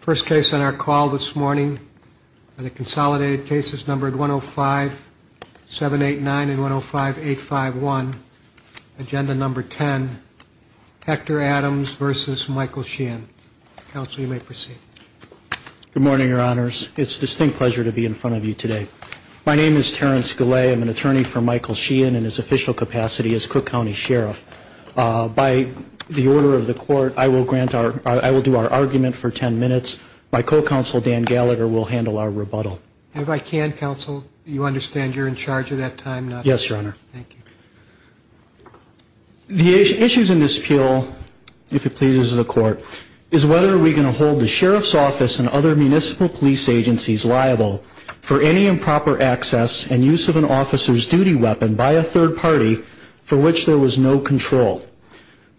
First case on our call this morning are the consolidated cases numbered 105-789 and 105-851. Agenda number 10, Hector Adams v. Michael Sheahan. Counsel, you may proceed. Good morning, Your Honors. It's a distinct pleasure to be in front of you today. My name is Terrence Gillay. I'm an attorney for Michael Sheahan in his official capacity as Cook County Sheriff. By the order of the court, I will grant our, I will do our argument for 10 minutes. My co-counsel, Dan Gallagher, will handle our rebuttal. If I can, Counsel, you understand you're in charge of that time, not me? Yes, Your Honor. Thank you. The issues in this appeal, if it pleases the court, is whether we can hold the Sheriff's Office and other municipal police agencies liable for any improper access and use of an officer's duty weapon by a third party for which there was no control.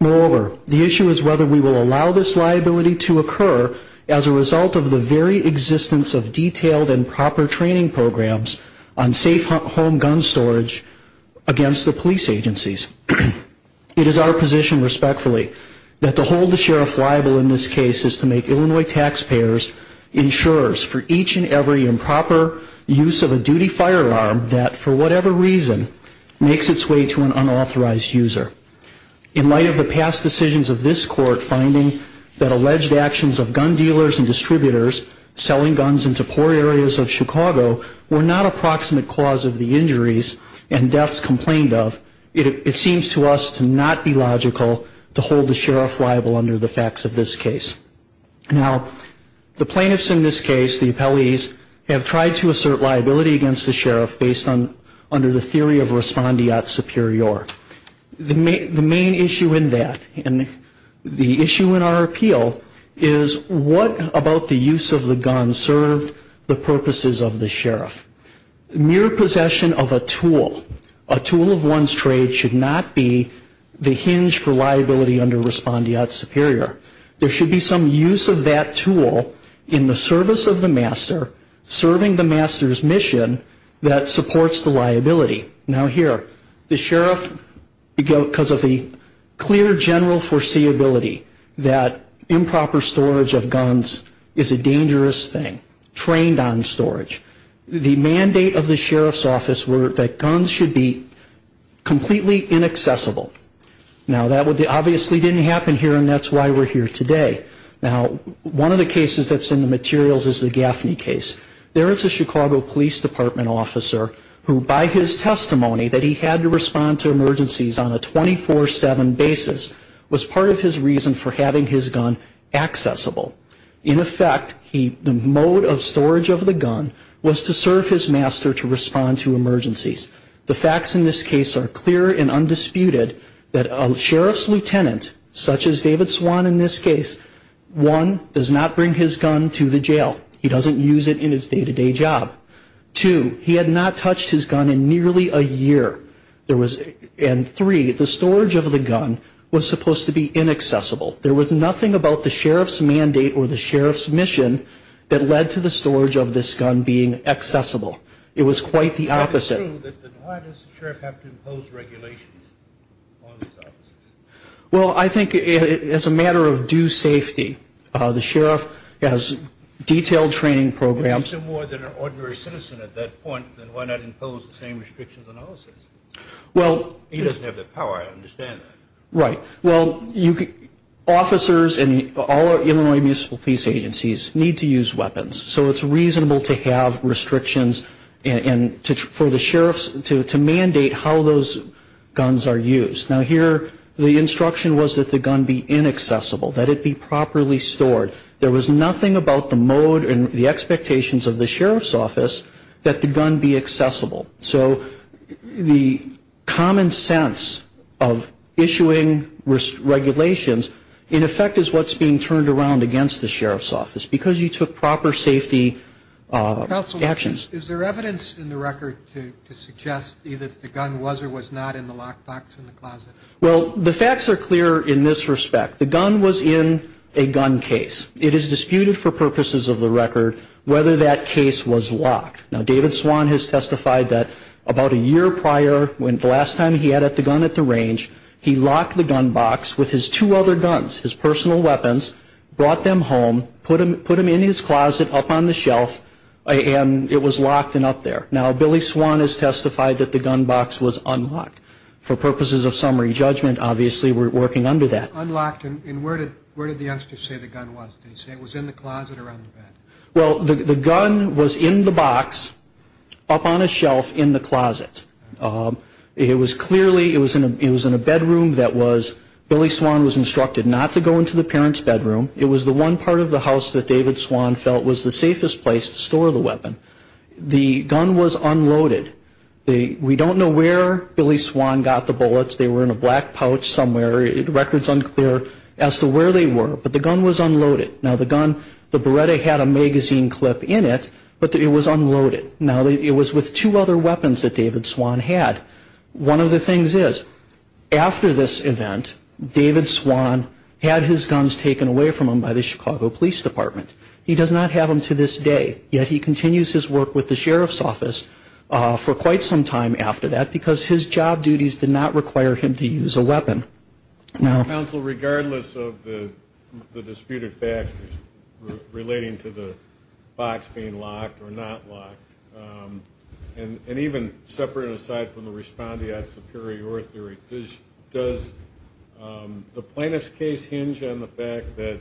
Moreover, the issue is whether we will allow this liability to occur as a result of the very existence of detailed and proper training programs on safe home gun storage against the police agencies. It is our position, respectfully, that to hold the Sheriff liable in this case is to make Illinois taxpayers insurers for each and every improper use of a duty firearm that, for whatever reason, makes its way to an unauthorized user. In light of the past decisions of this court finding that alleged actions of gun dealers and distributors selling guns into poor areas of Chicago were not a proximate cause of the injuries and deaths complained of, it seems to us to not be logical to hold the Sheriff liable under the facts of this case. Now, the plaintiffs in this case, the appellees, have tried to assert liability against the Sheriff based on, under the theory of respondeat superior. The main issue in that, and the issue in our appeal, is what about the use of the gun served the purposes of the Sheriff? Mere possession of a tool, a tool of one's trade, should not be the hinge for liability under respondeat superior. There should be some use of that tool in the service of the master, serving the master's mission that supports the liability. Now here, the Sheriff, because of the clear general foreseeability that improper storage of guns is a dangerous thing, trained on storage. The mandate of the Sheriff's office were that guns should be completely inaccessible. Now, that obviously didn't happen here, and that's why we're here today. Now, one of the cases that's in the materials is the Gaffney case. There is a Chicago Police Department officer who, by his testimony that he had to respond to emergencies on a 24-7 basis, was part of his reason for having his gun accessible. In effect, the mode of storage of the gun was to serve his master to respond to emergencies. The facts in this case are clear and undisputed that a Sheriff's lieutenant, such as David Swan in this case, one, does not bring his gun to the jail. He doesn't use it in his day-to-day job. Two, he had not touched his gun in nearly a year. And three, the storage of the gun was supposed to be inaccessible. There was nothing about the Sheriff's mandate or the Sheriff's mission that led to the storage of this gun being accessible. It was quite the opposite. Well, I think as a matter of due safety, the Sheriff has detailed training programs. He's still more than an ordinary citizen at that point, then why not impose the same restrictions on all citizens? He doesn't have the power, I understand that. Right. Well, officers and all Illinois Municipal Police Agencies need to use weapons. So it's reasonable to have restrictions for the Sheriffs to mandate how those guns are used. Now here, the instruction was that the gun be inaccessible, that it be properly stored. There was nothing about the mode and the expectations of the Sheriff's office that the gun be accessible. So the common sense of issuing regulations, in effect, is what's being turned around against the Sheriff's office. Because you took proper safety actions. Counsel, is there evidence in the record to suggest either the gun was or was not in the locked box in the closet? Well, the facts are clear in this respect. The gun was in a gun case. It is disputed for purposes of the record whether that case was locked. Now, David Swan has testified that about a year prior, the last time he had the gun at the range, he locked the gun box with his two other guns, his personal weapons, brought them home, put them in his closet up on the shelf, and it was locked and up there. Now, Billy Swan has testified that the gun box was unlocked. For purposes of summary judgment, obviously, we're working under that. Unlocked? And where did the youngsters say the gun was? Did they say it was in the closet or on the bed? Well, the gun was in the box, up on a shelf in the closet. It was clearly, it was in a bedroom that was, Billy Swan was instructed not to go into the parents' bedroom. It was the one part of the house that David Swan felt was the safest place to store the weapon. The gun was unloaded. We don't know where Billy Swan got the bullets. They were in a black pouch somewhere. The record's unclear as to where they were, but the gun was unloaded. Now, the gun, the Beretta had a magazine clip in it, but it was unloaded. Now, it was with two other weapons that David Swan had. One of the things is, after this event, David Swan had his guns taken away from him by the Chicago Police Department. He does not have them to this day, yet he continues his work with the sheriff's office for quite some time after that, because his job duties did not require him to use a weapon. Counsel, regardless of the disputed facts relating to the box being locked or not locked, and even separate and aside from the respondeat superior theory, does the plaintiff's case hinge on the fact that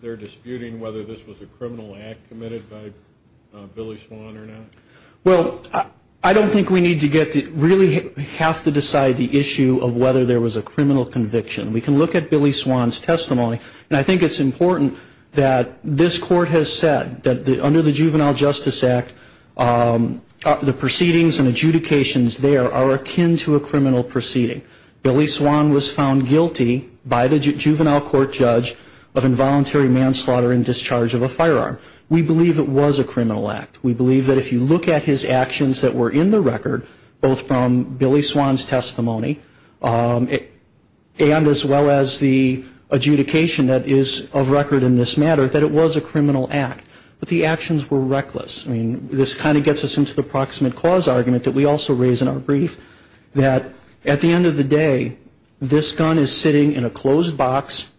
they're disputing whether this was a criminal act committed by Billy Swan or not? Well, I don't think we need to get to, really have to decide the issue of whether there was a criminal conviction. We can look at Billy Swan's testimony, and I think it's important that this court has said that under the Juvenile Justice Act, the proceedings and adjudications there are akin to a criminal proceeding. Billy Swan was found guilty by the juvenile court judge of involuntary manslaughter and discharge of a firearm. We believe it was a criminal act. We believe that if you look at his actions that were in the record, both from Billy Swan's testimony, and as well as the adjudication that is of record in this matter, that it was a criminal act. But the actions were reckless. I mean, this kind of gets us into the proximate cause argument that we also raise in our brief, that at the end of the day, this gun is sitting in a closed box,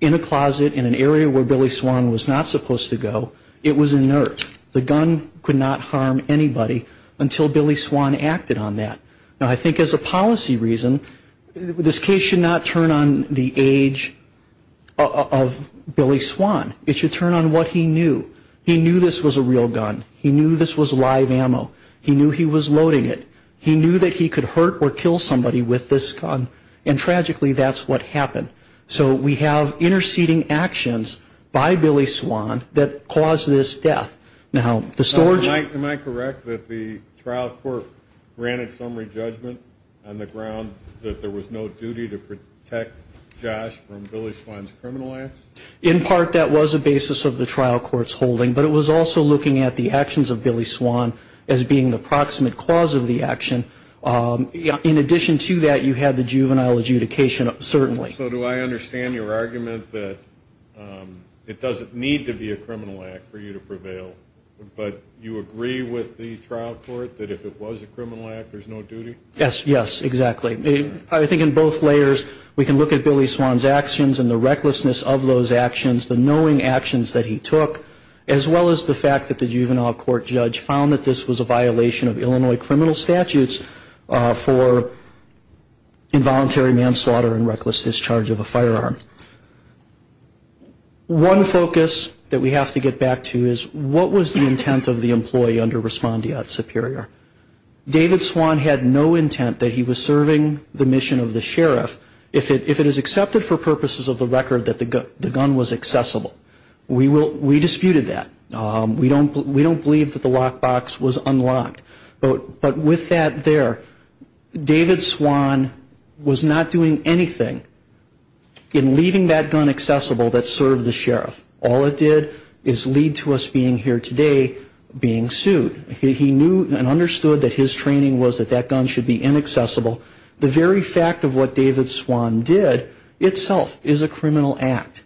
in a closet, in an area where Billy Swan was not supposed to go. It was inert. The gun could not harm anybody until Billy Swan acted on that. Now, I think as a policy reason, this case should not turn on the age of Billy Swan. It should turn on what he knew. He knew this was a real gun. He knew this was live ammo. He knew he was loading it. He knew that he could hurt or kill somebody with this gun. And tragically, that's what happened. So we have interceding actions by Billy Swan that caused this death. Am I correct that the trial court granted summary judgment on the ground that there was no duty to protect Josh from Billy Swan's criminal acts? In part, that was a basis of the trial court's holding. But it was also looking at the actions of Billy Swan as being the proximate cause of the action. In addition to that, you had the juvenile adjudication, certainly. So do I understand your argument that it doesn't need to be a criminal act for you to prevail, but you agree with the trial court that if it was a criminal act, there's no duty? Yes, yes, exactly. I think in both layers, we can look at Billy Swan's actions and the recklessness of those actions, the knowing actions that he took, as well as the fact that the juvenile court judge found that this was a violation of Illinois criminal statutes for involuntary manslaughter and reckless discharge of a firearm. One focus that we have to get back to is what was the intent of the employee under Respondiat Superior? David Swan had no intent that he was serving the mission of the sheriff if it is accepted for purposes of the record that the gun was accessible. We disputed that. We don't believe that the lockbox was unlocked. But with that there, David Swan was not doing anything in leaving that gun accessible that served the sheriff. All it did is lead to us being here today being sued. He knew and understood that his training was that that gun should be inaccessible. The very fact of what David Swan did itself is a criminal act.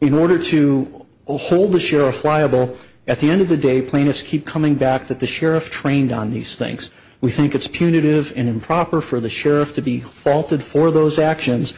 In order to hold the sheriff liable, at the end of the day, plaintiffs keep coming back that the sheriff trained on these things. We think it's punitive and improper for the sheriff to be faulted for those actions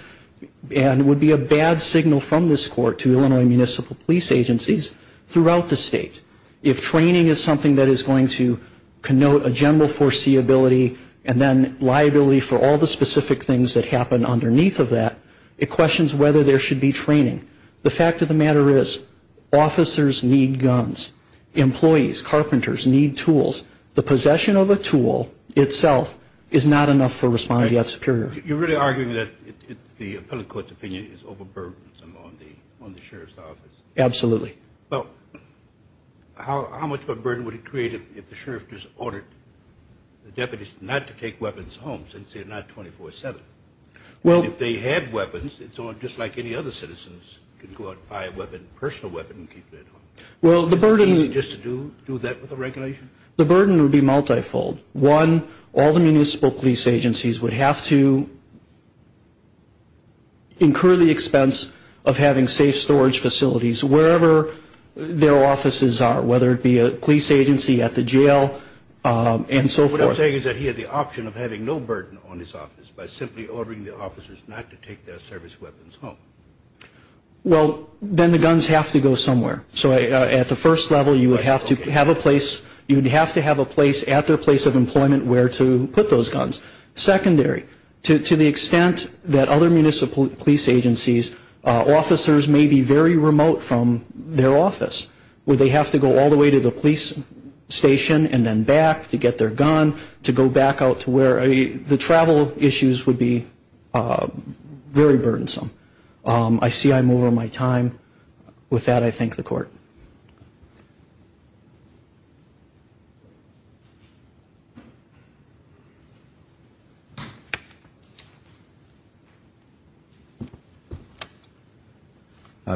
and would be a bad signal from this court to Illinois municipal police agencies throughout the state. If training is something that is going to connote a general foreseeability and then liability for all the specific things that happen underneath of that, it questions whether there should be training. The fact of the matter is, officers need guns. Employees, carpenters need tools. The possession of a tool itself is not enough for responding to that superior. You're really arguing that the appellate court's opinion is overburdened on the sheriff's office? Absolutely. Well, how much of a burden would it create if the sheriff just ordered the deputies not to take weapons home since they're not 24-7? If they had weapons, it's just like any other citizens can go out and buy a personal weapon and keep it at home. Well, the burden would be multifold. One, all the municipal police agencies would have to incur the expense of having safe storage facilities. Wherever their offices are, whether it be a police agency at the jail and so forth. What you're saying is that he had the option of having no burden on his office by simply ordering the officers not to take their service weapons home? Well, then the guns have to go somewhere. So at the first level, you would have to have a place at their place of employment where to put those guns. Secondary, to the extent that other municipal police agencies, officers may be very remote from their office. Where they have to go all the way to the police station and then back to get their gun to go back out to where the travel issues would be very burdensome. I see I'm over my time. I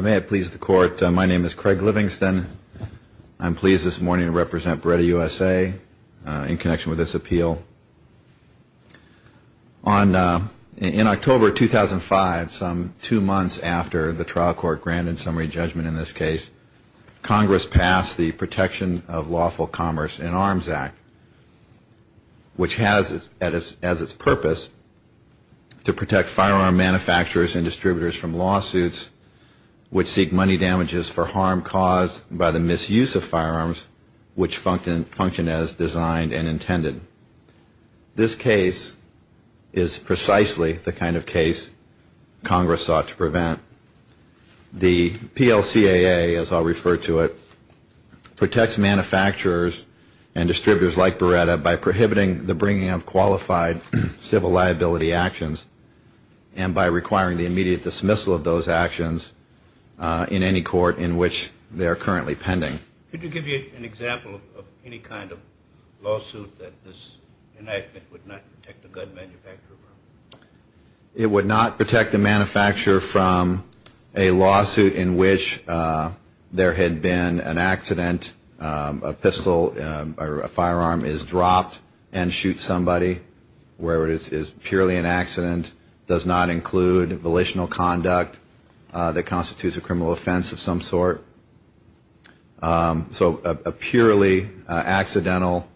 may have pleased the court. My name is Craig Livingston. I'm pleased this morning to represent Breda USA in connection with this appeal. On in October 2005, some two months after the trial court granted summary judgment in this case, Congress passed the Protection of Lawful Commerce in Arms Act, which has as its purpose to protect firearm manufacturers and distributors from lawsuits, which seek money damages for harm caused by the misuse of firearms, which function as designed and intended. This case is precisely the kind of case Congress sought to prevent. The PLCAA, as I'll refer to it, protects manufacturers and distributors like Breda by prohibiting the bringing of qualified civil liability actions and by requiring the immediate dismissal of those actions in any court in which they are currently pending. Could you give me an example of any kind of lawsuit that this enactment would not protect a gun manufacturer from? It would not protect a manufacturer from a lawsuit in which there had been an accident, a pistol or a firearm is dropped and shoots somebody, where it is purely an accident. It does not include volitional conduct that constitutes a criminal offense of some sort. So a purely accidental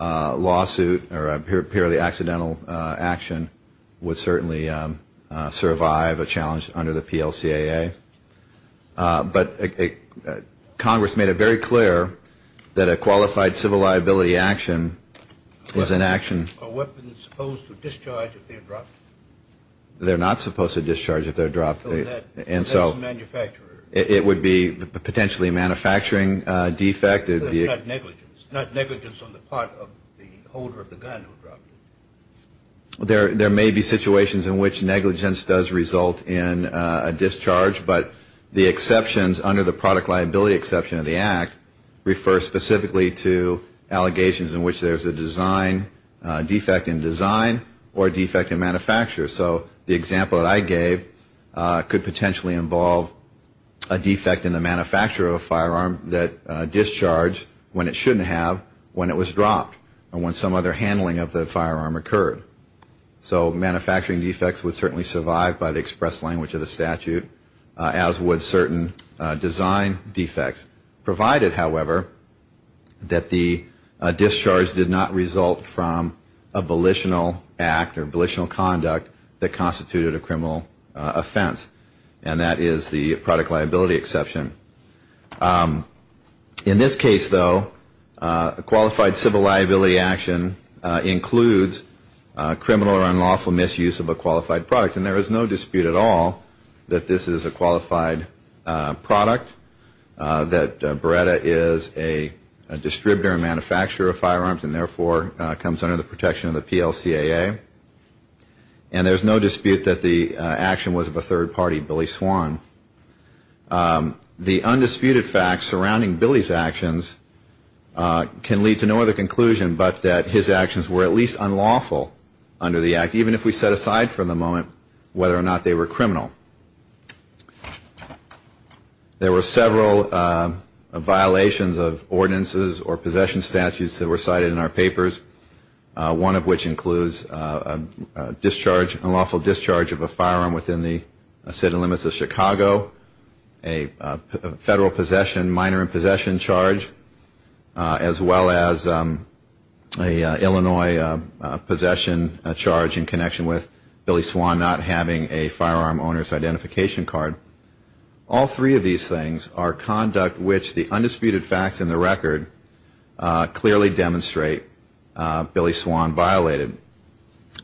lawsuit or a purely accidental action would not protect a manufacturer from that. It would certainly survive a challenge under the PLCAA. But Congress made it very clear that a qualified civil liability action is an action. Are weapons supposed to discharge if they're dropped? They're not supposed to discharge if they're dropped. And so it would be potentially a manufacturing defect. There may be situations in which negligence does result in a discharge, but the exceptions under the Product Liability Exception of the Act refer specifically to allegations in which there's a defect in design or a defect in manufacture. So the example that I gave could potentially involve a defect in the manufacture of a firearm that discharged when it shouldn't have when it was dropped or when some other handling of the firearm occurred. So manufacturing defects would certainly survive by the express language of the statute, as would certain design defects. Provided, however, that the discharge did not result from a volitional act or volitional conduct in the manufacture of a firearm. That constituted a criminal offense, and that is the Product Liability Exception. In this case, though, a qualified civil liability action includes criminal or unlawful misuse of a qualified product. And there is no dispute at all that this is a qualified product, that Beretta is a distributor and manufacturer of firearms and therefore comes under the protection of the PLCAA. There's no dispute that the action was of a third party, Billy Swan. The undisputed facts surrounding Billy's actions can lead to no other conclusion but that his actions were at least unlawful under the Act, even if we set aside for the moment whether or not they were criminal. There were several violations of ordinances or possession statutes that were cited in our papers, one of which includes a discharge, an alleged discharge of a firearm. An unlawful discharge of a firearm within the city limits of Chicago. A federal possession, minor in possession charge, as well as an Illinois possession charge in connection with Billy Swan not having a firearm owner's identification card. All three of these things are conduct which the undisputed facts in the record clearly demonstrate Billy Swan violated.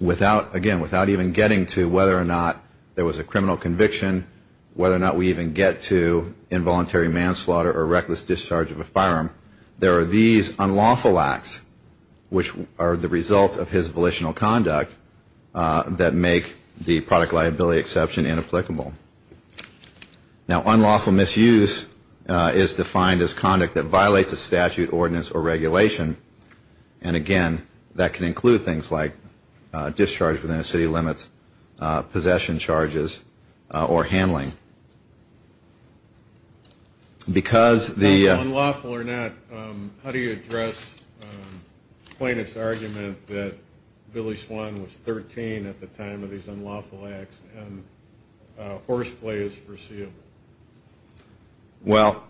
Again, without even getting to whether or not there was a criminal conviction, whether or not we even get to involuntary manslaughter or reckless discharge of a firearm, there are these unlawful acts which are the result of his volitional conduct that make the product liability exception inapplicable. Now, unlawful misuse is defined as conduct that violates a statute, ordinance, or regulation. And again, that can include things like discharge within a city limits, possession charges, or handling. Because the unlawful or not, how do you address plaintiff's argument that Billy Swan was 13 at the time of these unlawful acts and horseplay is foreseeable? Well,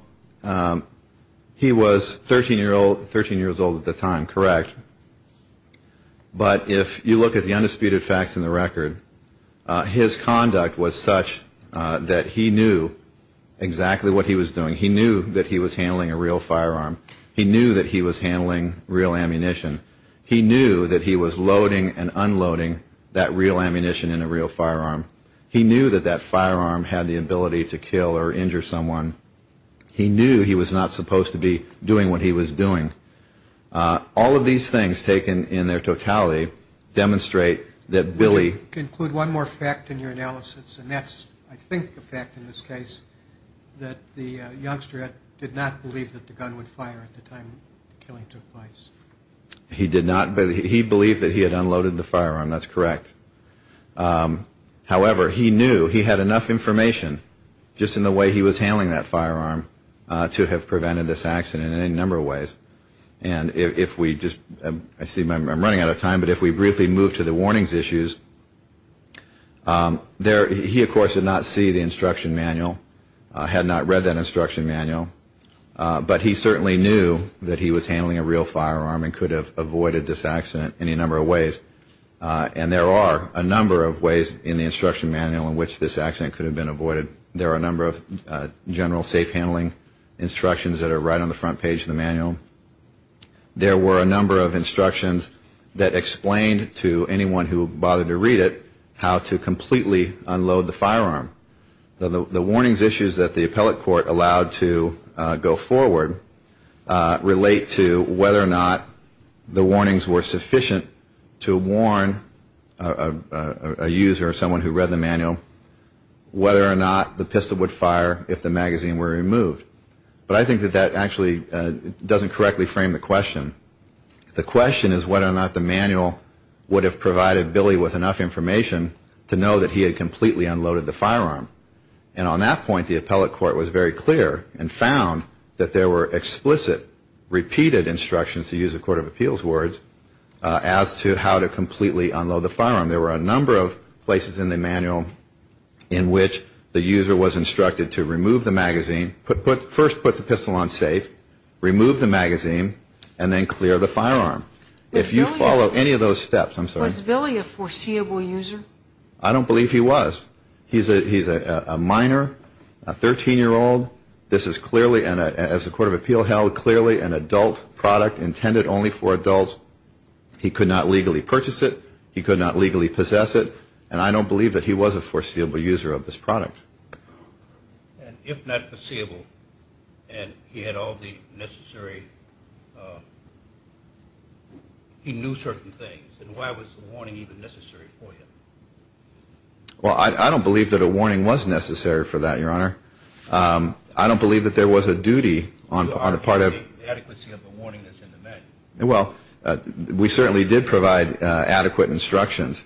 he was 13 years old at the time, correct. But if you look at the undisputed facts in the record, his conduct was such that he knew exactly what he was doing. He knew that he was handling a real firearm. He knew that he was handling real ammunition. He knew that he was loading and unloading that real ammunition in a real firearm. He knew that that firearm had the ability to kill or injure someone. He knew he was not supposed to be doing what he was doing. All of these things, taken in their totality, demonstrate that Billy... Would you include one more fact in your analysis, and that's, I think, the fact in this case, that the youngster did not believe that the gun would fire at the time the killing took place. He did not... He believed that he had unloaded the firearm, that's correct. However, he knew he had enough information, just in the way he was handling that firearm, to have prevented this accident in any number of ways. And if we just... I see I'm running out of time, but if we briefly move to the warnings issues... He, of course, did not see the instruction manual, had not read that instruction manual. But he certainly knew that he was handling a real firearm and could have avoided this accident in any number of ways. And there are a number of ways in the instruction manual in which this accident could have been avoided. There are a number of general safe handling instructions that are right on the front page of the manual. There were a number of instructions that explained to anyone who bothered to read it how to completely unload the firearm. The warnings issues that the appellate court allowed to go forward relate to whether or not the warnings were sufficient to warn a user or someone who read the manual, whether or not the pistol would fire if the magazine were removed. But I think that that actually doesn't correctly frame the question. The question is whether or not the manual would have provided Billy with enough information to know that he had completely unloaded the firearm. And on that point, the appellate court was very clear and found that there were explicit, repeated instructions, to use a court of appeals words, as to how to completely unload the firearm. There were a number of places in the manual in which the user was instructed to remove the magazine, first put the pistol on safe, remove the magazine, and then completely unload the firearm. If you follow any of those steps, I'm sorry. Was Billy a foreseeable user? I don't believe he was. He's a minor, a 13-year-old. This is clearly, as a court of appeal held, clearly an adult product intended only for adults. He could not legally purchase it. He could not legally possess it. And I don't believe that he was a foreseeable user of this product. And if not foreseeable, and he had all the necessary... He knew certain things. And why was the warning even necessary for him? Well, I don't believe that a warning was necessary for that, Your Honor. I don't believe that there was a duty on the part of... Well, we certainly did provide adequate instructions.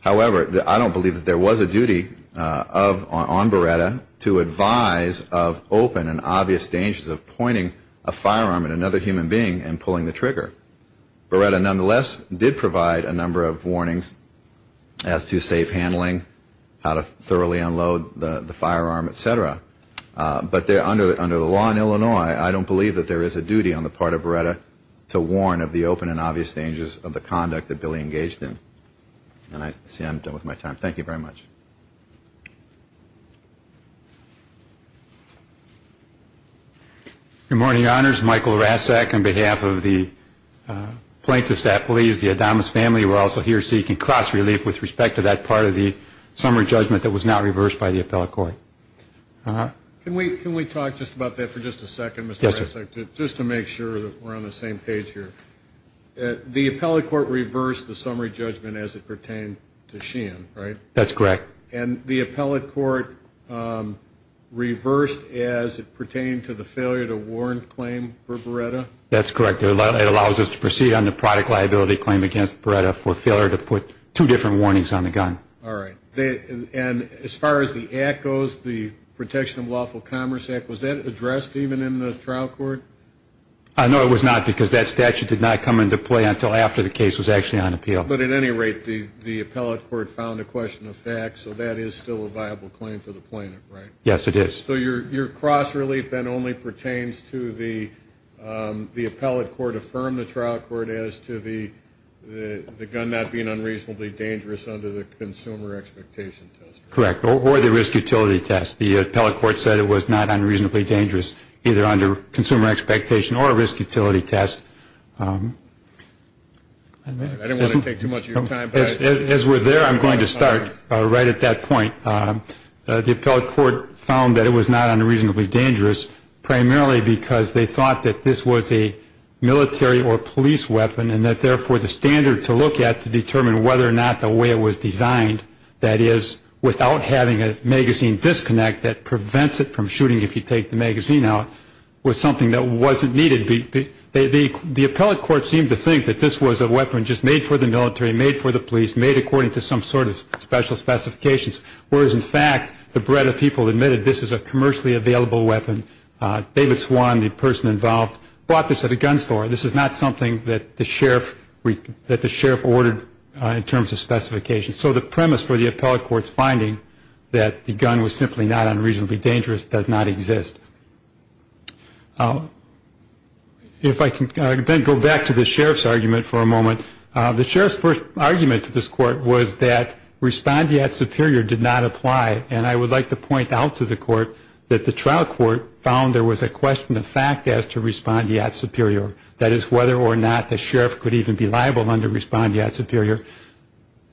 However, I don't believe that there was a duty on Beretta to advise of open and obvious dangers of pointing a firearm at another human being and pulling the trigger. Beretta, nonetheless, did provide a number of warnings as to safe handling, how to thoroughly unload the firearm, et cetera. But under the law in Illinois, I don't believe that there is a duty on the part of Beretta to warn of the open and obvious dangers of the conduct that Billy engaged in. And I see I'm done with my time. Thank you very much. Good morning, Your Honors. My name is Michael Rasek on behalf of the plaintiffs at Belize. The Adonis family were also here seeking cross-relief with respect to that part of the summary judgment that was not reversed by the appellate court. Can we talk just about that for just a second, Mr. Rasek, just to make sure that we're on the same page here? The appellate court reversed the summary judgment as it pertained to Sheehan, right? That's correct. And the appellate court reversed as it pertained to the failure to warn claim for Beretta? That's correct. It allows us to proceed on the product liability claim against Beretta for failure to put two different warnings on the gun. All right. And as far as the act goes, the Protection of Lawful Commerce Act, was that addressed even in the trial court? No, it was not, because that statute did not come into play until after the case was actually on appeal. But at any rate, the appellate court found a question of fact, so that is still a viable claim for the plaintiff, right? Yes, it is. So your cross-relief then only pertains to the appellate court affirm the trial court as to the gun not being unreasonably dangerous under the consumer expectation test? Correct, or the risk utility test. The appellate court said it was not unreasonably dangerous either under consumer expectation or risk utility test. I didn't want to take too much of your time. As we're there, I'm going to start right at that point. The appellate court found that it was not unreasonably dangerous primarily because they thought that this was a military or police weapon and that therefore the standard to look at to determine whether or not the way it was designed, that is, without having a magazine disconnect that prevents it from shooting if you take the magazine out, was something that wasn't needed. The appellate court seemed to think that this was a weapon just made for the military, made for the police, made according to some sort of special specifications, whereas in fact the breadth of people admitted this was a commercially available weapon. David Swan, the person involved, bought this at a gun store. This is not something that the sheriff ordered in terms of specifications. So the premise for the appellate court's finding that the gun was simply not unreasonably dangerous does not exist. If I can then go back to the sheriff's argument for a moment. The sheriff's first argument to this court was that respondeat superior did not apply. And I would like to point out to the court that the trial court found there was a question of fact as to respondeat superior, that is, whether or not the sheriff could even be liable under respondeat superior.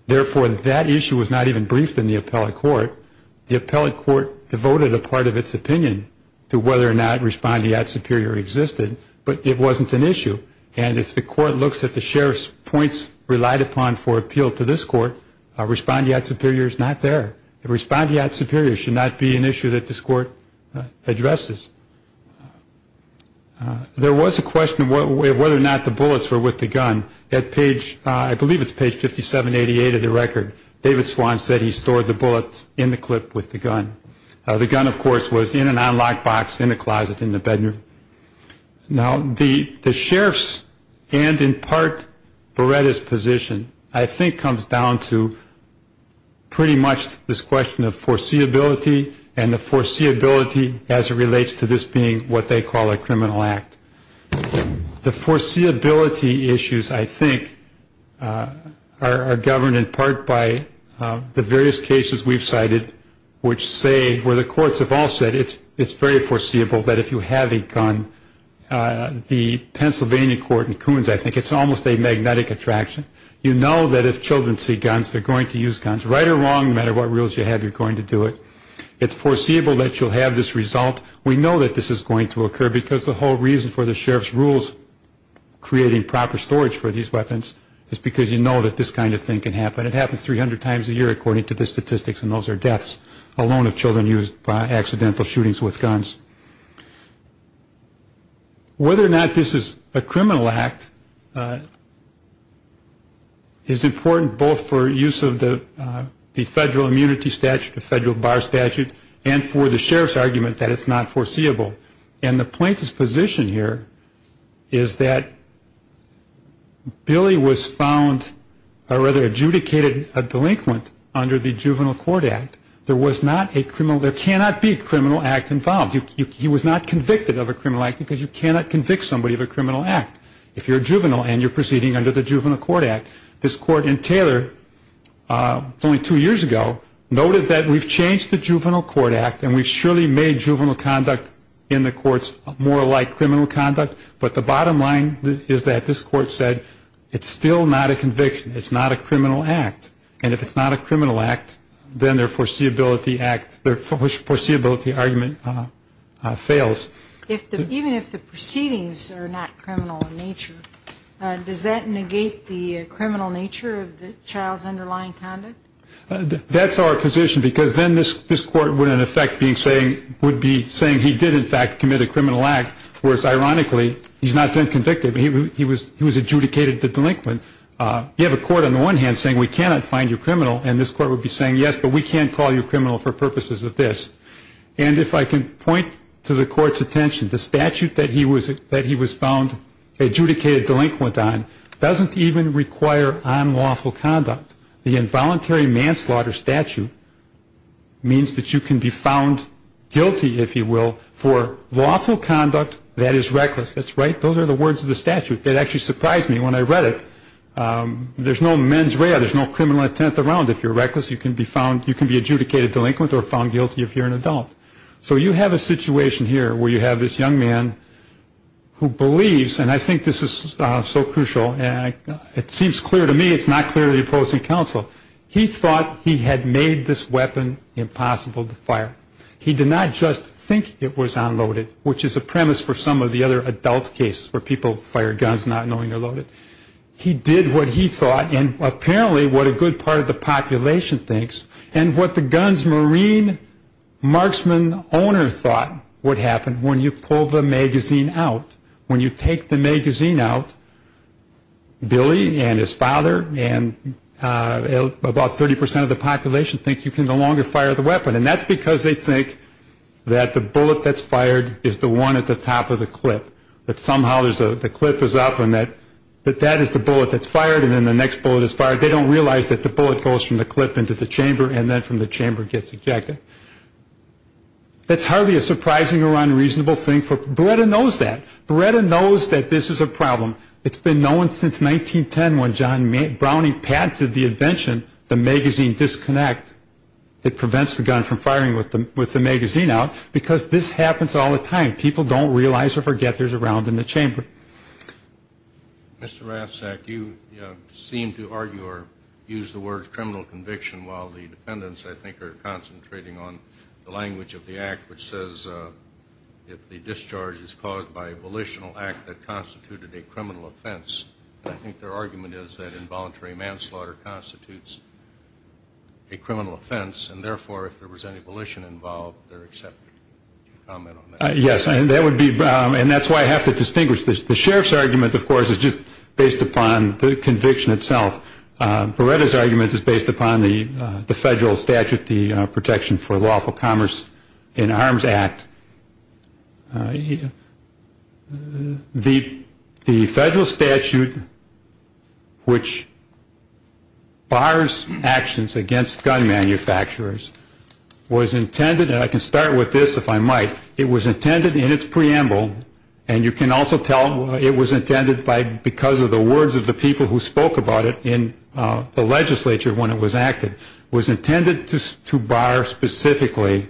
Therefore, that issue was not even briefed in the appellate court. The appellate court devoted a part of its opinion to whether or not respondeat superior existed. It wasn't an issue. And if the court looks at the sheriff's points relied upon for appeal to this court, respondeat superior is not there. Respondeat superior should not be an issue that this court addresses. There was a question of whether or not the bullets were with the gun. At page, I believe it's page 5788 of the record, David Swan said he stored the bullets in the clip with the gun. The gun, of course, was in an unlocked box in a closet in the bedroom. Now, the sheriff's and, in part, Beretta's position, I think, comes down to pretty much this question of foreseeability and the foreseeability as it relates to this being what they call a criminal act. The foreseeability issues, I think, are governed in part by the various cases we've cited, which say, where the courts have all said it's very foreseeable that if you have a gun, you can use it. The Pennsylvania court in Coons, I think, it's almost a magnetic attraction. You know that if children see guns, they're going to use guns, right or wrong, no matter what rules you have, you're going to do it. It's foreseeable that you'll have this result. We know that this is going to occur because the whole reason for the sheriff's rules creating proper storage for these weapons is because you know that this kind of thing can happen. It happens 300 times a year, according to the statistics, and those are deaths alone of children used by accidental shootings with guns. Whether or not this is a criminal act is important both for use of the federal immunity statute, the federal bar statute, and for the sheriff's argument that it's not foreseeable. And the plaintiff's position here is that Billy was found or rather adjudicated a delinquent under the Juvenile Court Act. There was not a criminal, there cannot be a criminal act involved. He was not convicted of a criminal act because you cannot convict somebody of a criminal act if you're a juvenile and you're proceeding under the Juvenile Court Act. This court in Taylor, only two years ago, noted that we've changed the Juvenile Court Act and we've surely made juvenile conduct in the courts more like criminal conduct, but the bottom line is that this court said it's still not a conviction, it's not a criminal act. And if it's not a criminal act, then their foreseeability act, their foreseeability argument is invalid. If the, even if the proceedings are not criminal in nature, does that negate the criminal nature of the child's underlying conduct? That's our position because then this court would in effect be saying, would be saying he did in fact commit a criminal act, whereas ironically he's not been convicted. He was adjudicated the delinquent. You have a court on the one hand saying we cannot find you criminal and this court would be saying yes, but we can't call you criminal for purposes of this. And if I can point to the court's attention, the statute that he was found adjudicated delinquent on doesn't even require unlawful conduct. The involuntary manslaughter statute means that you can be found guilty, if you will, for lawful conduct that is reckless. That's right, those are the words of the statute. That actually surprised me when I read it. There's no mens rea, there's no criminal intent around if you're reckless, you can be found, you can be adjudicated delinquent or found guilty if you're an adult. So you have a situation here where you have this young man who believes, and I think this is so crucial, and it seems clear to me it's not clear to the opposing counsel. He thought he had made this weapon impossible to fire. He did not just think it was unloaded, which is a premise for some of the other adult cases where people fire guns not knowing they're loaded. He did what he thought, and apparently what a good part of the population thinks, and what the guns marine marksman owner thought would happen when you pull the magazine out. When you take the magazine out, Billy and his father and about 30% of the population think you can no longer fire the weapon. And that's because they think that the bullet that's fired is the one at the top of the clip. That somehow the clip is up and that that is the bullet that's fired and then the next bullet is fired. They don't realize that the bullet goes from the clip into the chamber and then from the chamber gets ejected. That's hardly a surprising or unreasonable thing for, Beretta knows that. Beretta knows that this is a problem. It's been known since 1910 when John Browning patented the invention, the magazine disconnect. It prevents the gun from firing with the magazine out because this happens all the time. People don't realize or forget there's a round in the chamber. Mr. Rastak, you seem to argue or use the word criminal conviction while the defendants, I think, are concentrating on the language of the act which says that the discharge is caused by a volitional act that constituted a criminal offense. I think their argument is that involuntary manslaughter constitutes a criminal offense, and therefore if there was any volition involved, they're accepted. Yes, and that's why I have to distinguish. The sheriff's argument, of course, is just based upon the conviction itself. Beretta's argument is based upon the federal statute, the Protection for Lawful Commerce in Arms Act. The federal statute which bars actions against gun manufacturers was intended, and I can start with this, if I might, it was intended in its preamble, and you can also tell it was intended because of the words of the people who spoke about it in the legislature when it was acted. It was intended to bar specifically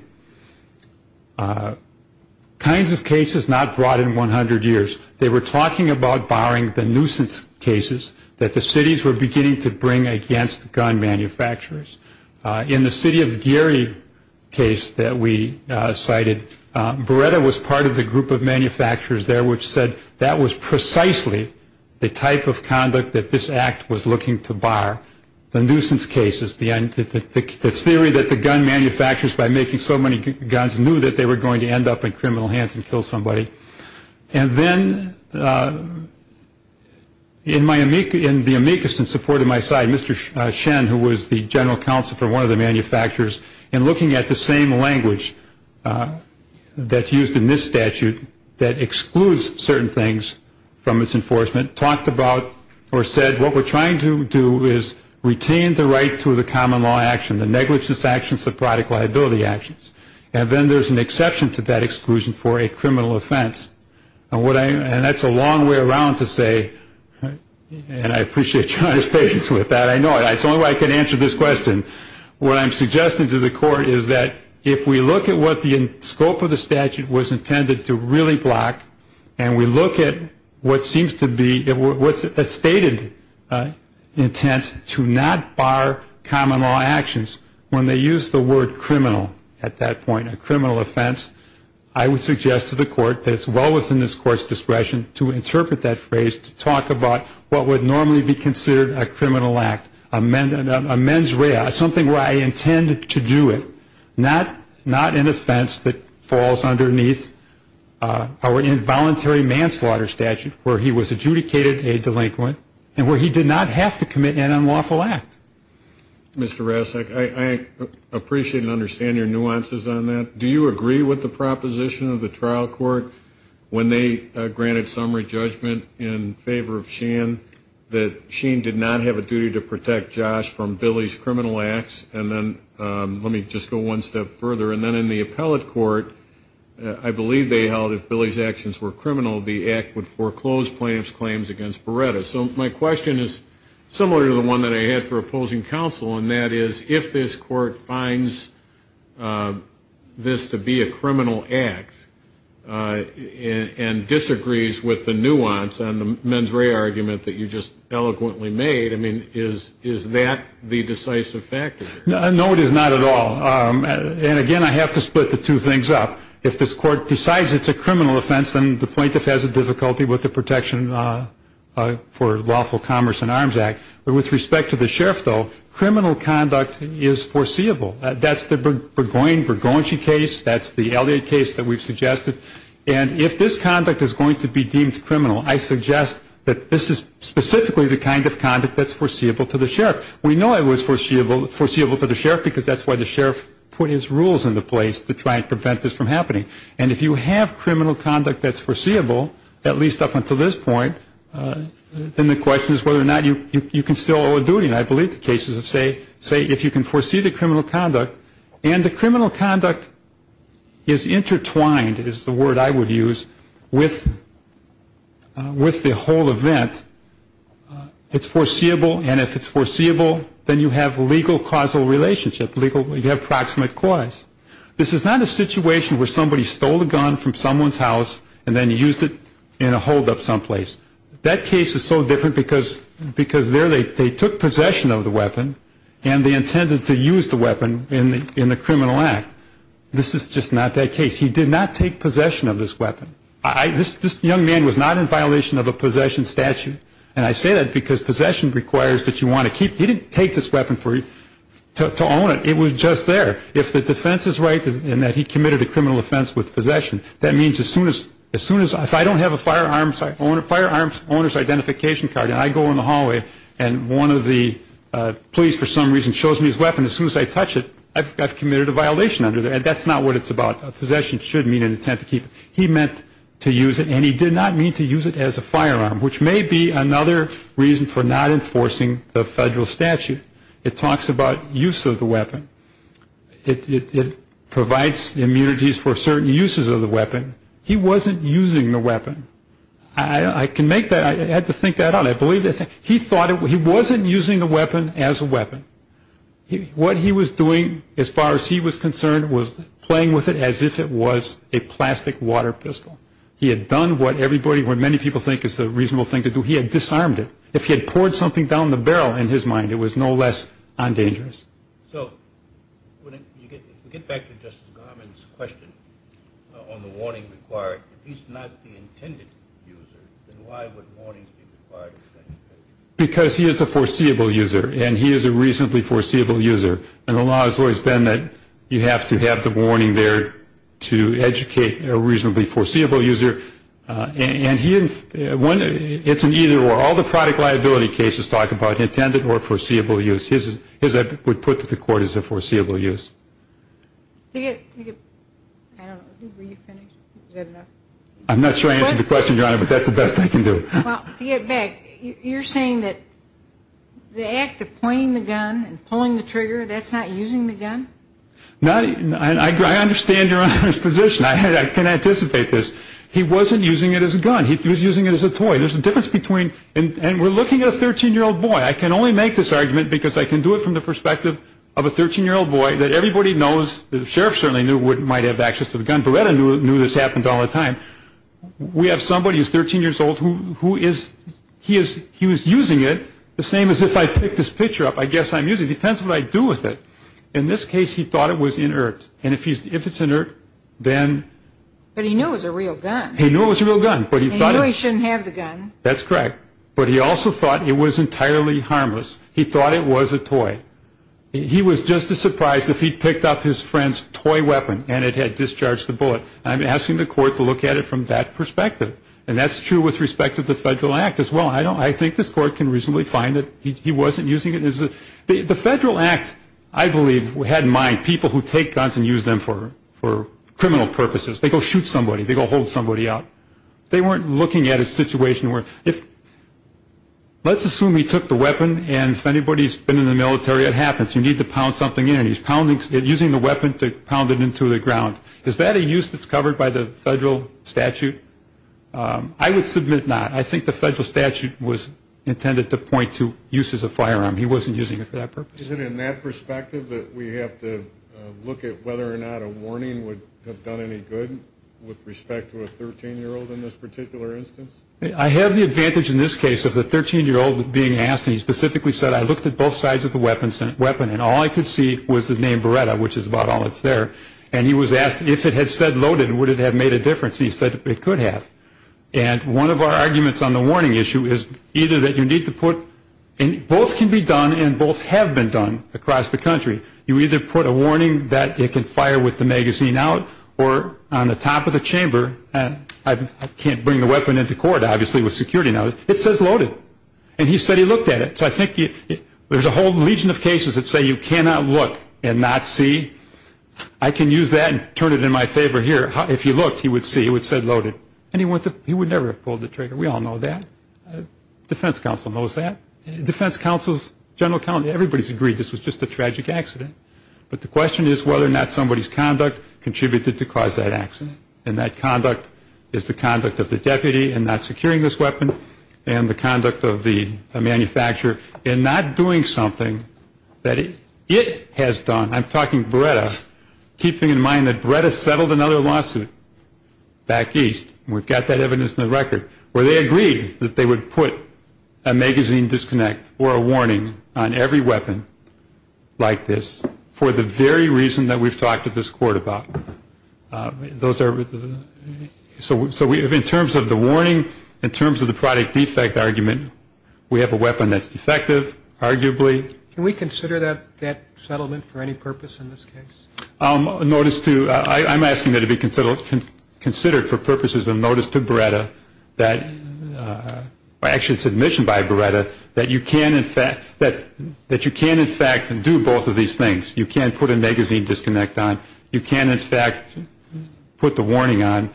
kinds of cases not brought in 100 years. They were talking about barring the nuisance cases that the cities were beginning to bring against gun manufacturers. In the city of Gary case that we cited, Beretta was part of the group of manufacturers there which said that was precisely the type of conduct that this act was looking to bar, the nuisance cases, the theory that the gun manufacturers, by making so many guns, knew that they were going to end up in criminal hands and kill somebody. And then in the amicus in support of my side, Mr. Shen, who was the general counsel of the city, the general counsel for one of the manufacturers, in looking at the same language that's used in this statute that excludes certain things from its enforcement, talked about or said what we're trying to do is retain the right to the common law action, the negligence actions, the product liability actions. And then there's an exception to that exclusion for a criminal offense. And that's a long way around to say, and I appreciate John's patience with that. I know it's the only way I can answer this question. What I'm suggesting to the court is that if we look at what the scope of the statute was intended to really block, and we look at what seems to be, what's a stated intent to not bar common law actions, when they use the word criminal at that point, a criminal offense, I would suggest to the court that it's well within this court's discretion to interpret that phrase, to talk about what would normally be considered a criminal act, a mens rea, something where I intend to do it, not an offense that falls underneath our involuntary manslaughter statute, where he was adjudicated a delinquent and where he did not have to commit an unlawful act. Mr. Rasek, I appreciate and understand your nuances on that. Do you agree with the proposition of the trial court when they granted summary judgment in favor of Shane that Shane did not have a duty to protect Josh from Billy's criminal acts? And then let me just go one step further. And then in the appellate court, I believe they held if Billy's actions were criminal, the act would foreclose plaintiff's claims against Beretta. So my question is similar to the one that I had for opposing counsel, and that is if this court finds this to be a criminal act and disagrees with the nuance, and the mens rea argument that you just eloquently made, I mean, is that the decisive factor? No, it is not at all. And, again, I have to split the two things up. If this court decides it's a criminal offense, then the plaintiff has a difficulty with the Protection for Lawful Commerce and Arms Act. But with respect to the sheriff, though, criminal conduct is foreseeable. That's the Burgoyne-Burgoyne case. That's the Elliott case that we've suggested. And if this conduct is going to be deemed criminal, I suggest that this is specifically the kind of conduct that's foreseeable to the sheriff. We know it was foreseeable to the sheriff because that's why the sheriff put his rules into place to try and prevent this from happening. And if you have criminal conduct that's foreseeable, at least up until this point, then the question is whether or not you can still owe a duty. And I believe the cases say if you can foresee the criminal conduct, and the criminal conduct is intertwined, is the word I would use, with the whole event, it's foreseeable, and if it's foreseeable, then you have legal causal relationship, you have proximate cause. This is not a situation where somebody stole a gun from someone's house and then used it in a holdup someplace. That case is so different because there they took possession of the weapon and they intended to use the weapon in the criminal act. This is just not that case. He did not take possession of this weapon. This young man was not in violation of a possession statute, and I say that because possession requires that you want to keep it. He didn't take this weapon to own it. It was just there. If the defense is right in that he committed a criminal offense with possession, that means as soon as I don't have a firearms owner's identification card and I go in the hallway and one of the police for some reason shows me his weapon, as soon as I touch it, I've committed a violation under there, and that's not what it's about. Possession should mean an attempt to keep it. He meant to use it, and he did not mean to use it as a firearm, which may be another reason for not enforcing the federal statute. It talks about use of the weapon. It provides immunities for certain uses of the weapon. He wasn't using the weapon. I can make that. I had to think that out. He wasn't using the weapon as a weapon. What he was doing, as far as he was concerned, was playing with it as if it was a plastic water pistol. He had done what many people think is a reasonable thing to do. He had disarmed it. If he had poured something down the barrel in his mind, it was no less undangerous. So if we get back to Justice Garmon's question on the warning required, if he's not the intended user, then why would warnings be required? Because he is a foreseeable user, and he is a reasonably foreseeable user. And the law has always been that you have to have the warning there to educate a reasonably foreseeable user. And it's an either or. All the product liability cases talk about intended or foreseeable use. His would put to the court as a foreseeable use. Were you finished? I'm not sure I answered the question, Your Honor, but that's the best I can do. To get back, you're saying that the act of pointing the gun and pulling the trigger, that's not using the gun? I understand Your Honor's position. I can anticipate this. He wasn't using it as a gun. He was using it as a toy. There's a difference between, and we're looking at a 13-year-old boy. I can only make this argument because I can do it from the perspective of a 13-year-old boy that everybody knows, the sheriff certainly knew, might have access to the gun. Beretta knew this happened all the time. We have somebody who's 13 years old who is, he was using it the same as if I pick this picture up, I guess I'm using it. It depends what I do with it. In this case, he thought it was inert. And if it's inert, then. But he knew it was a real gun. He knew it was a real gun. He knew he shouldn't have the gun. That's correct. But he also thought it was entirely harmless. He thought it was a toy. He was just as surprised if he picked up his friend's toy weapon and it had discharged the bullet. I'm asking the court to look at it from that perspective. And that's true with respect to the Federal Act as well. I think this court can reasonably find that he wasn't using it. The Federal Act, I believe, had in mind people who take guns and use them for criminal purposes. They go shoot somebody. They go hold somebody up. They weren't looking at a situation where if let's assume he took the weapon and if anybody's been in the military, it happens. You need to pound something in. He's using the weapon to pound it into the ground. Is that a use that's covered by the federal statute? I would submit not. I think the federal statute was intended to point to use as a firearm. He wasn't using it for that purpose. Is it in that perspective that we have to look at whether or not a warning would have done any good with respect to a 13-year-old in this particular instance? I have the advantage in this case of the 13-year-old being asked, and he specifically said, I looked at both sides of the weapon and all I could see was the name Beretta, which is about all that's there. And he was asked if it had said loaded, would it have made a difference? He said it could have. And one of our arguments on the warning issue is either that you need to put, and both can be done and both have been done across the country. You either put a warning that it can fire with the magazine out or on the top of the chamber. I can't bring the weapon into court, obviously, with security now. It says loaded. And he said he looked at it. So I think there's a whole legion of cases that say you cannot look and not see. I can use that and turn it in my favor here. If he looked, he would see. It would say loaded. And he would never have pulled the trigger. We all know that. Defense counsel knows that. Defense counsels, general counsel, everybody's agreed this was just a tragic accident. But the question is whether or not somebody's conduct contributed to cause that accident. And that conduct is the conduct of the deputy in not securing this weapon and the conduct of the manufacturer in not doing something that it has done. I'm talking Beretta, keeping in mind that Beretta settled another lawsuit back east. We've got that evidence in the record where they agreed that they would put a magazine disconnect or a warning on every weapon like this for the very reason that we've talked to this court about. So in terms of the warning, in terms of the product defect argument, we have a weapon that's defective, arguably. Can we consider that settlement for any purpose in this case? I'm asking that it be considered for purposes of notice to Beretta that, actually it's admission by Beretta, that you can in fact do both of these things. You can put a magazine disconnect on. You can in fact put the warning on.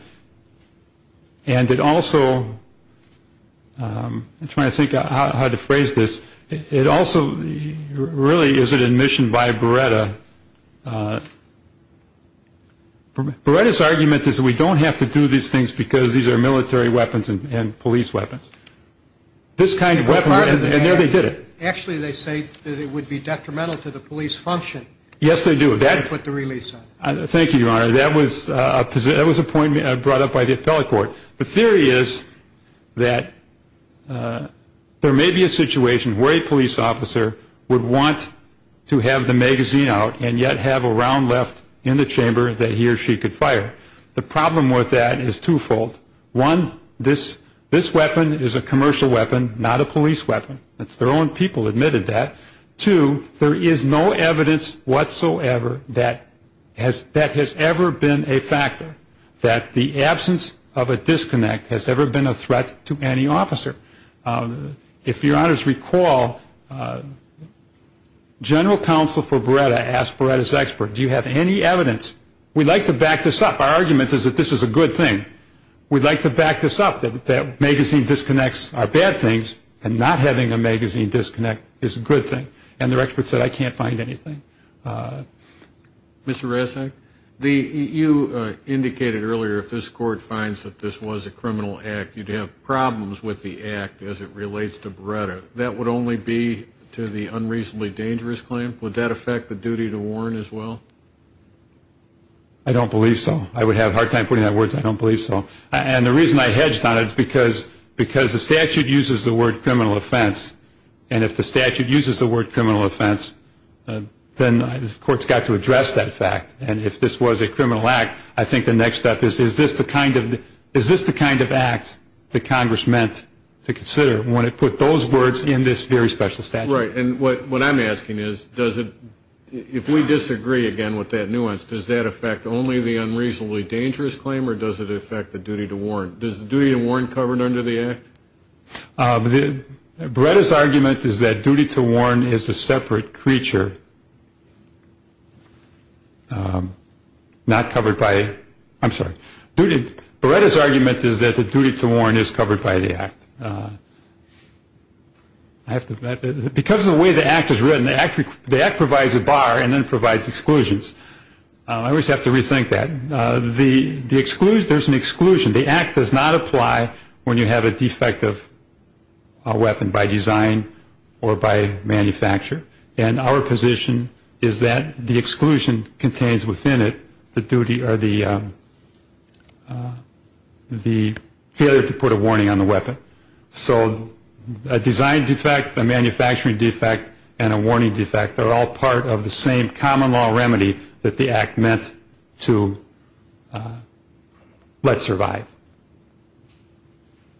And it also, I'm trying to think how to phrase this. It also really is an admission by Beretta. Beretta's argument is we don't have to do these things because these are military weapons and police weapons. This kind of weapon, and there they did it. Actually, they say that it would be detrimental to the police function. Yes, they do. They put the release on. Thank you, Your Honor. That was a point brought up by the appellate court. The theory is that there may be a situation where a police officer would want to have the magazine out and yet have a round left in the chamber that he or she could fire. The problem with that is twofold. One, this weapon is a commercial weapon, not a police weapon. It's their own people admitted that. Two, there is no evidence whatsoever that that has ever been a factor, that the absence of a disconnect has ever been a threat to any officer. If Your Honors recall, General Counsel for Beretta asked Beretta's expert, do you have any evidence? We'd like to back this up. Our argument is that this is a good thing. We'd like to back this up, that magazine disconnects are bad things and not having a magazine disconnect is a good thing. And their expert said, I can't find anything. Mr. Resnick, you indicated earlier if this court finds that this was a criminal act, you'd have problems with the act as it relates to Beretta. That would only be to the unreasonably dangerous claim. Would that affect the duty to warn as well? I don't believe so. I would have a hard time putting that in words. I don't believe so. And the reason I hedged on it is because the statute uses the word criminal offense, and if the statute uses the word criminal offense, then the court's got to address that fact. And if this was a criminal act, I think the next step is, is this the kind of act that Congress meant to consider when it put those words in this very special statute? Right. And what I'm asking is, if we disagree again with that nuance, does that affect only the unreasonably dangerous claim or does it affect the duty to warn? Does the duty to warn cover under the act? Beretta's argument is that duty to warn is a separate creature, not covered by, I'm sorry. Beretta's argument is that the duty to warn is covered by the act. Because of the way the act is written, the act provides a bar and then provides exclusions. I always have to rethink that. There's an exclusion. The act does not apply when you have a defective weapon by design or by manufacture. And our position is that the exclusion contains within it the duty or the failure to put a warning on the weapon. So a design defect, a manufacturing defect, and a warning defect, they're all part of the same common law remedy that the act meant to let survive.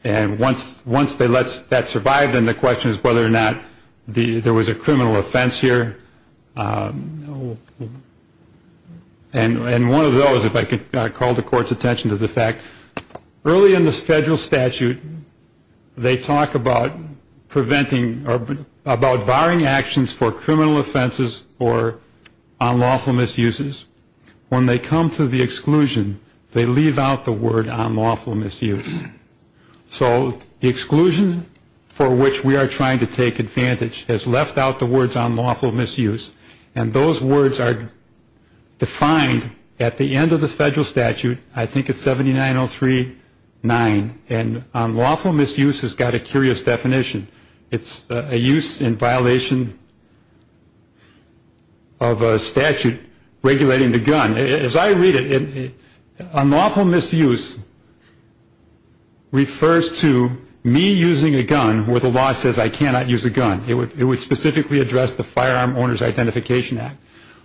And once they let that survive, then the question is whether or not there was a criminal offense here. And one of those, if I could call the Court's attention to the fact, early in the federal statute, they talk about preventing or about barring actions for criminal offenses or unlawful misuses. When they come to the exclusion, they leave out the word unlawful misuse. So the exclusion for which we are trying to take advantage has left out the words unlawful misuse. And those words are defined at the end of the federal statute. I think it's 79039. And unlawful misuse has got a curious definition. It's a use in violation of a statute regulating the gun. As I read it, unlawful misuse refers to me using a gun where the law says I cannot use a gun. It would specifically address the Firearm Owners Identification Act.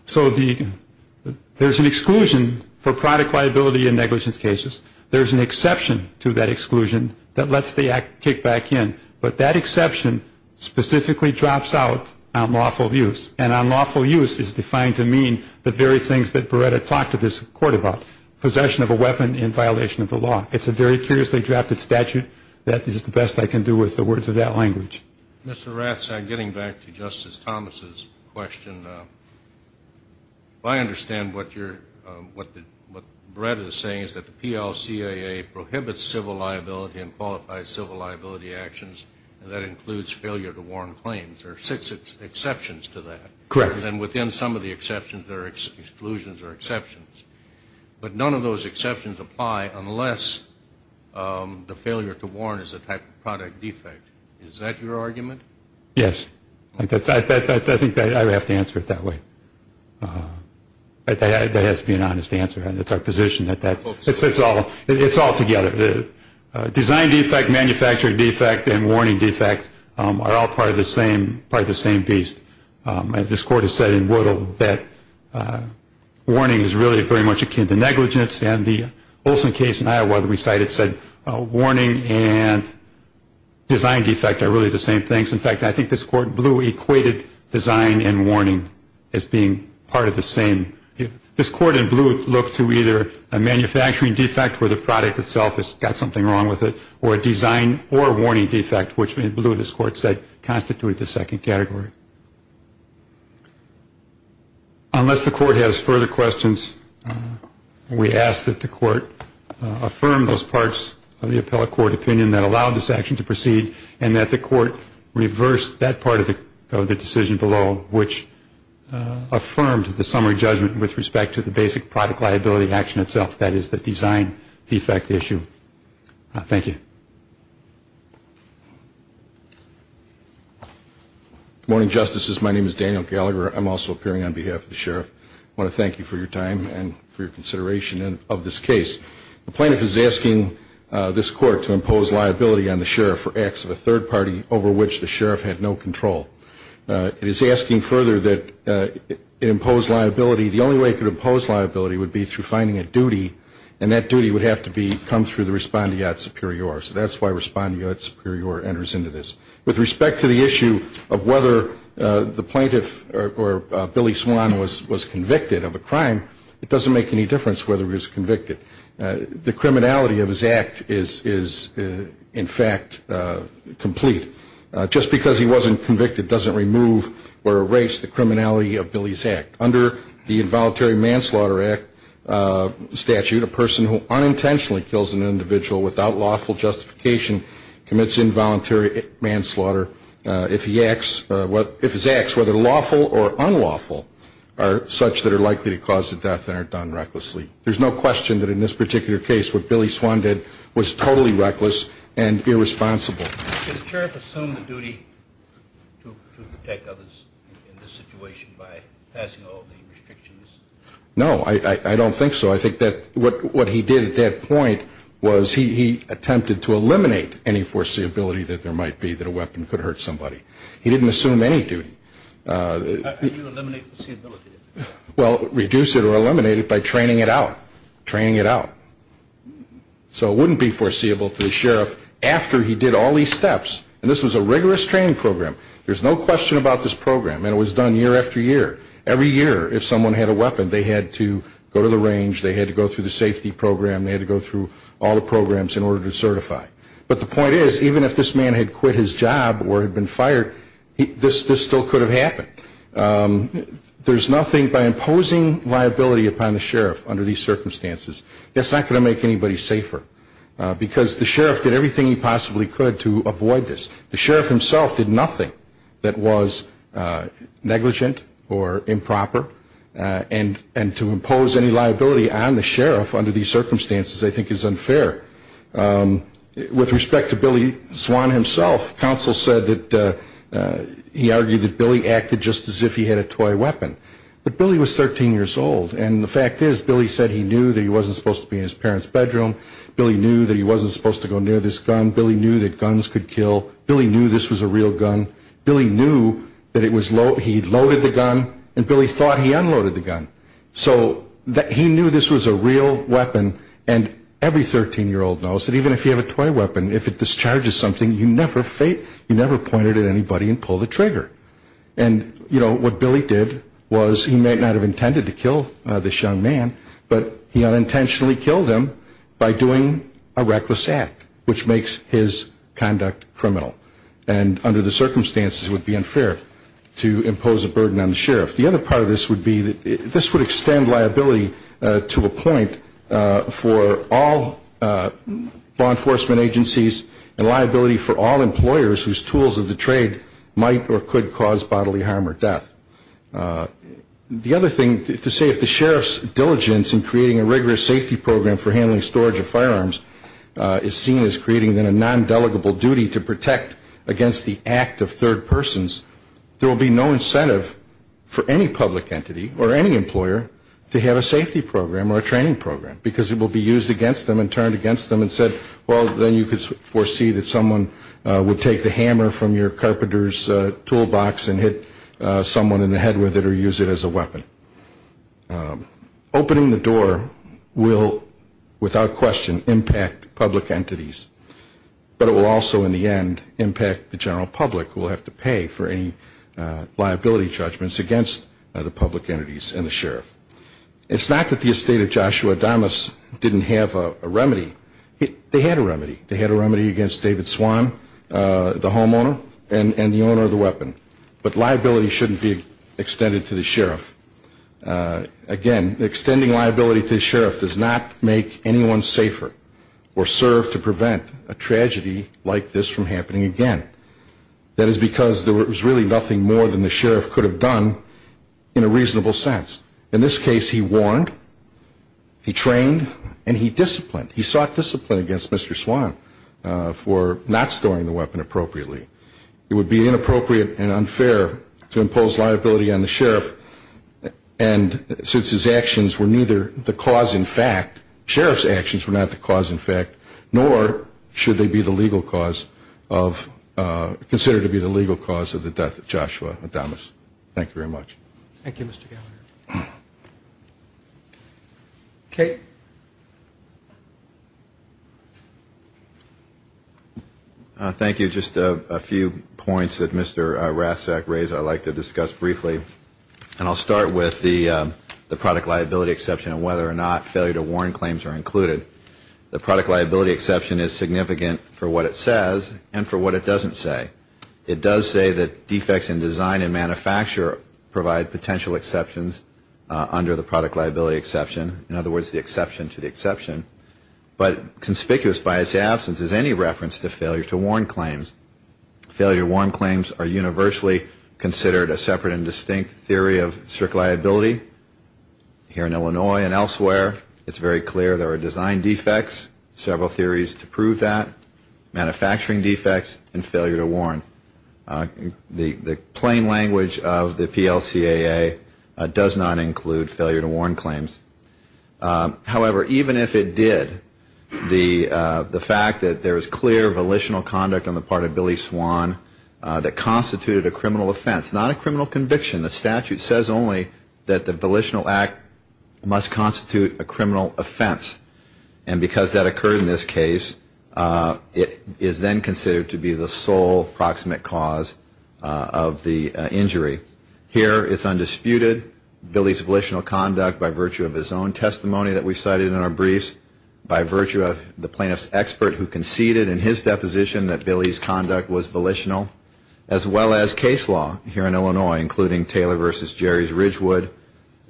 So there's an exclusion for product liability in negligence cases. There's an exception to that exclusion that lets the act kick back in. But that exception specifically drops out unlawful use. And unlawful use is defined to mean the very things that Beretta talked to this Court about, possession of a weapon in violation of the law. It's a very curiously drafted statute that is the best I can do with the words of that language. Mr. Rathsack, getting back to Justice Thomas' question, I understand what Beretta is saying is that the PLCAA prohibits civil liability and qualifies civil liability actions, and that includes failure to warn claims. There are six exceptions to that. Correct. And within some of the exceptions, there are exclusions or exceptions. But none of those exceptions apply unless the failure to warn is a type of product defect. Is that your argument? Yes. I think I would have to answer it that way. That has to be an honest answer. That's our position. It's all together. Design defect, manufacturing defect, and warning defect are all part of the same beast. This Court has said in Whittle that warning is really very much akin to negligence, and the Olson case in Iowa that we cited said warning and design defect are really the same things. In fact, I think this Court in Blue equated design and warning as being part of the same. This Court in Blue looked to either a manufacturing defect where the product itself has got something wrong with it, or a design or warning defect, which in Blue this Court said constituted the second category. Unless the Court has further questions, we ask that the Court affirm those parts of the appellate court opinion that allowed this action to proceed and that the Court reverse that part of the decision below, which affirmed the summary judgment with respect to the basic product liability action itself, that is the design defect issue. Thank you. Good morning, Justices. My name is Daniel Gallagher. I'm also appearing on behalf of the Sheriff. I want to thank you for your time and for your consideration of this case. The plaintiff is asking this Court to impose liability on the Sheriff for acts of a third party over which the Sheriff had no control. It is asking further that it impose liability. The only way it could impose liability would be through finding a duty, and that duty would have to come through the respondeat superior. So that's why respondeat superior enters into this. With respect to the issue of whether the plaintiff or Billy Swan was convicted of a crime, it doesn't make any difference whether he was convicted. The criminality of his act is, in fact, complete. Just because he wasn't convicted doesn't remove or erase the criminality of Billy's act. Under the Involuntary Manslaughter Act statute, a person who unintentionally kills an individual without lawful justification commits involuntary manslaughter if his acts, whether lawful or unlawful, are such that are likely to cause the death and are done recklessly. There's no question that in this particular case what Billy Swan did was totally reckless and irresponsible. Should the Sheriff assume the duty to protect others in this situation by passing all the restrictions? No, I don't think so. I think that what he did at that point was he attempted to eliminate any foreseeability that there might be that a weapon could hurt somebody. He didn't assume any duty. How do you eliminate foreseeability? Well, reduce it or eliminate it by training it out. Training it out. So it wouldn't be foreseeable to the Sheriff after he did all these steps. And this was a rigorous training program. There's no question about this program, and it was done year after year. Every year, if someone had a weapon, they had to go to the range, they had to go through the safety program, they had to go through all the programs in order to certify. But the point is, even if this man had quit his job or had been fired, this still could have happened. There's nothing by imposing liability upon the Sheriff under these circumstances. That's not going to make anybody safer because the Sheriff did everything he possibly could to avoid this. The Sheriff himself did nothing that was negligent or improper, and to impose any liability on the Sheriff under these circumstances I think is unfair. With respect to Billy Swan himself, counsel said that he argued that Billy acted just as if he had a toy weapon. But Billy was 13 years old. And the fact is, Billy said he knew that he wasn't supposed to be in his parents' bedroom. Billy knew that he wasn't supposed to go near this gun. Billy knew that guns could kill. Billy knew this was a real gun. Billy knew that he loaded the gun, and Billy thought he unloaded the gun. So he knew this was a real weapon, and every 13-year-old knows that even if you have a toy weapon, if it discharges something, you never point it at anybody and pull the trigger. And, you know, what Billy did was he may not have intended to kill this young man, but he unintentionally killed him by doing a reckless act, which makes his conduct criminal. And under the circumstances it would be unfair to impose a burden on the Sheriff. The other part of this would be that this would extend liability to a point for all law enforcement agencies and liability for all employers whose tools of the trade might or could cause bodily harm or death. The other thing, to say if the Sheriff's diligence in creating a rigorous safety program for handling storage of firearms is seen as creating a non-delegable duty to protect against the act of third persons, there will be no incentive for any public entity or any employer to have a safety program or a training program because it will be used against them and turned against them and said, well, then you could foresee that someone would take the hammer from your carpenter's toolbox and hit someone in the head with it or use it as a weapon. Opening the door will without question impact public entities, but it will also in the end impact the general public who will have to pay for any liability judgments against the public entities and the Sheriff. It's not that the estate of Joshua Adamus didn't have a remedy. They had a remedy. They had a remedy against David Swan, the homeowner, and the owner of the weapon. But liability shouldn't be extended to the Sheriff. Again, extending liability to the Sheriff does not make anyone safer or serve to prevent a tragedy like this from happening again. That is because there was really nothing more than the Sheriff could have done in a reasonable sense. In this case, he warned, he trained, and he disciplined. He sought discipline against Mr. Swan for not storing the weapon appropriately. It would be inappropriate and unfair to impose liability on the Sheriff, and since his actions were neither the cause in fact, Sheriff's actions were not the cause in fact, nor should they be the legal cause of the death of Joshua Adamus. Thank you very much. Thank you, Mr. Gallagher. Kate. Thank you. Just a few points that Mr. Rassak raised I'd like to discuss briefly, and I'll start with the product liability exception and whether or not failure to warn claims are included. The product liability exception is significant for what it says and for what it doesn't say. It does say that defects in design and manufacture provide potential exceptions under the product liability exception, in other words, the exception to the exception, but conspicuous by its absence is any reference to failure to warn claims. Failure to warn claims are universally considered a separate and distinct theory of strict liability. Here in Illinois and elsewhere, it's very clear there are design defects, several theories to prove that, manufacturing defects, and failure to warn. The plain language of the PLCAA does not include failure to warn claims. However, even if it did, the fact that there is clear volitional conduct on the part of Billy Swan that constituted a criminal offense, not a criminal conviction, the statute says only that the volitional act must constitute a criminal offense, and because that occurred in this case, it is then considered to be the sole proximate cause of the injury. Here it's undisputed Billy's volitional conduct by virtue of his own testimony that we cited in our briefs, by virtue of the plaintiff's expert who conceded in his deposition that Billy's conduct was volitional, as well as case law here in Illinois, including Taylor v. Jerry's Ridgewood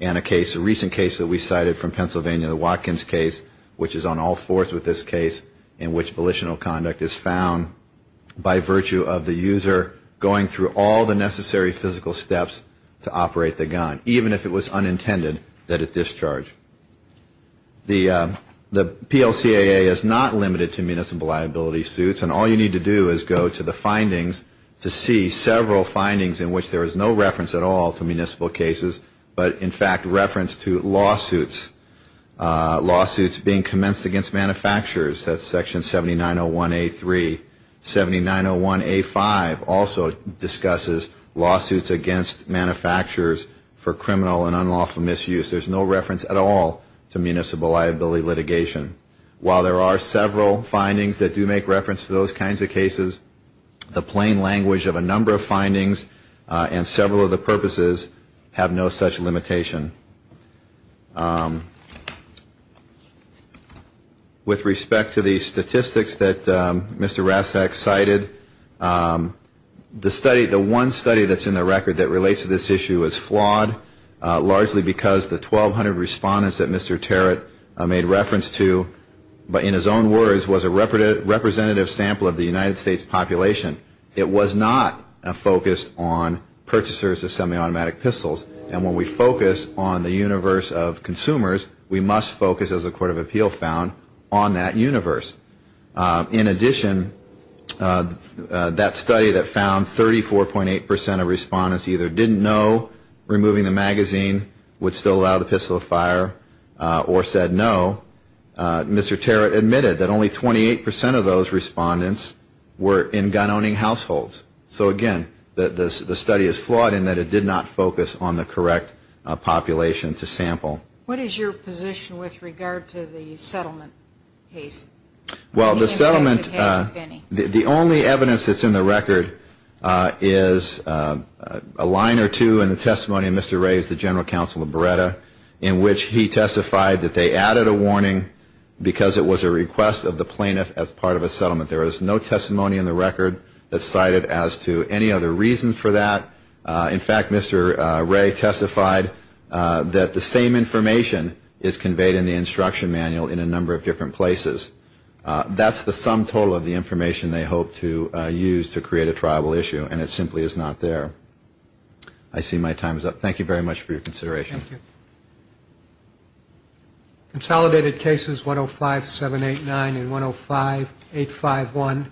and a case, a recent case that we cited from Pennsylvania, the Watkins case, which is on all fours with this case in which volitional conduct is found by virtue of the user going through all the necessary physical steps to operate the gun, even if it was unintended that it discharge. The PLCAA is not limited to municipal liability suits, and all you need to do is go to the findings to see several findings in which there is no reference at all to municipal cases, but in fact reference to lawsuits, lawsuits being commenced against manufacturers. That's section 7901A3. 7901A5 also discusses lawsuits against manufacturers for criminal and unlawful misuse. There's no reference at all to municipal liability litigation. While there are several findings that do make reference to those kinds of cases, the plain language of a number of findings and several of the purposes have no such limitation. With respect to the statistics that Mr. Rasak cited, the study, the one study that's in the record that relates to this issue is flawed, largely because the 1,200 respondents that Mr. Tarrant made reference to in his own words was a representative sample of the United States population. It was not a focus on purchasers of semi-automatic pistols, and when we focus on the universe of consumers, we must focus, as the Court of Appeal found, on that universe. In addition, that study that found 34.8% of respondents either didn't know removing the magazine would still allow the pistol to fire or said no. Mr. Tarrant admitted that only 28% of those respondents were in gun-owning households. So again, the study is flawed in that it did not focus on the correct population to sample. What is your position with regard to the settlement case? Well, the settlement, the only evidence that's in the record is a line or two in the testimony of Mr. Ray as the General Counsel of Beretta, in which he testified that they added a warning because it was a request of the plaintiff as part of a settlement. There is no testimony in the record that's cited as to any other reason for that. In fact, Mr. Ray testified that the same information is conveyed in the instruction manual in a number of different places. That's the sum total of the information they hope to use to create a tribal issue, and it simply is not there. I see my time is up. Thank you very much for your consideration. Thank you. Consolidated cases 105-789 and 105-851.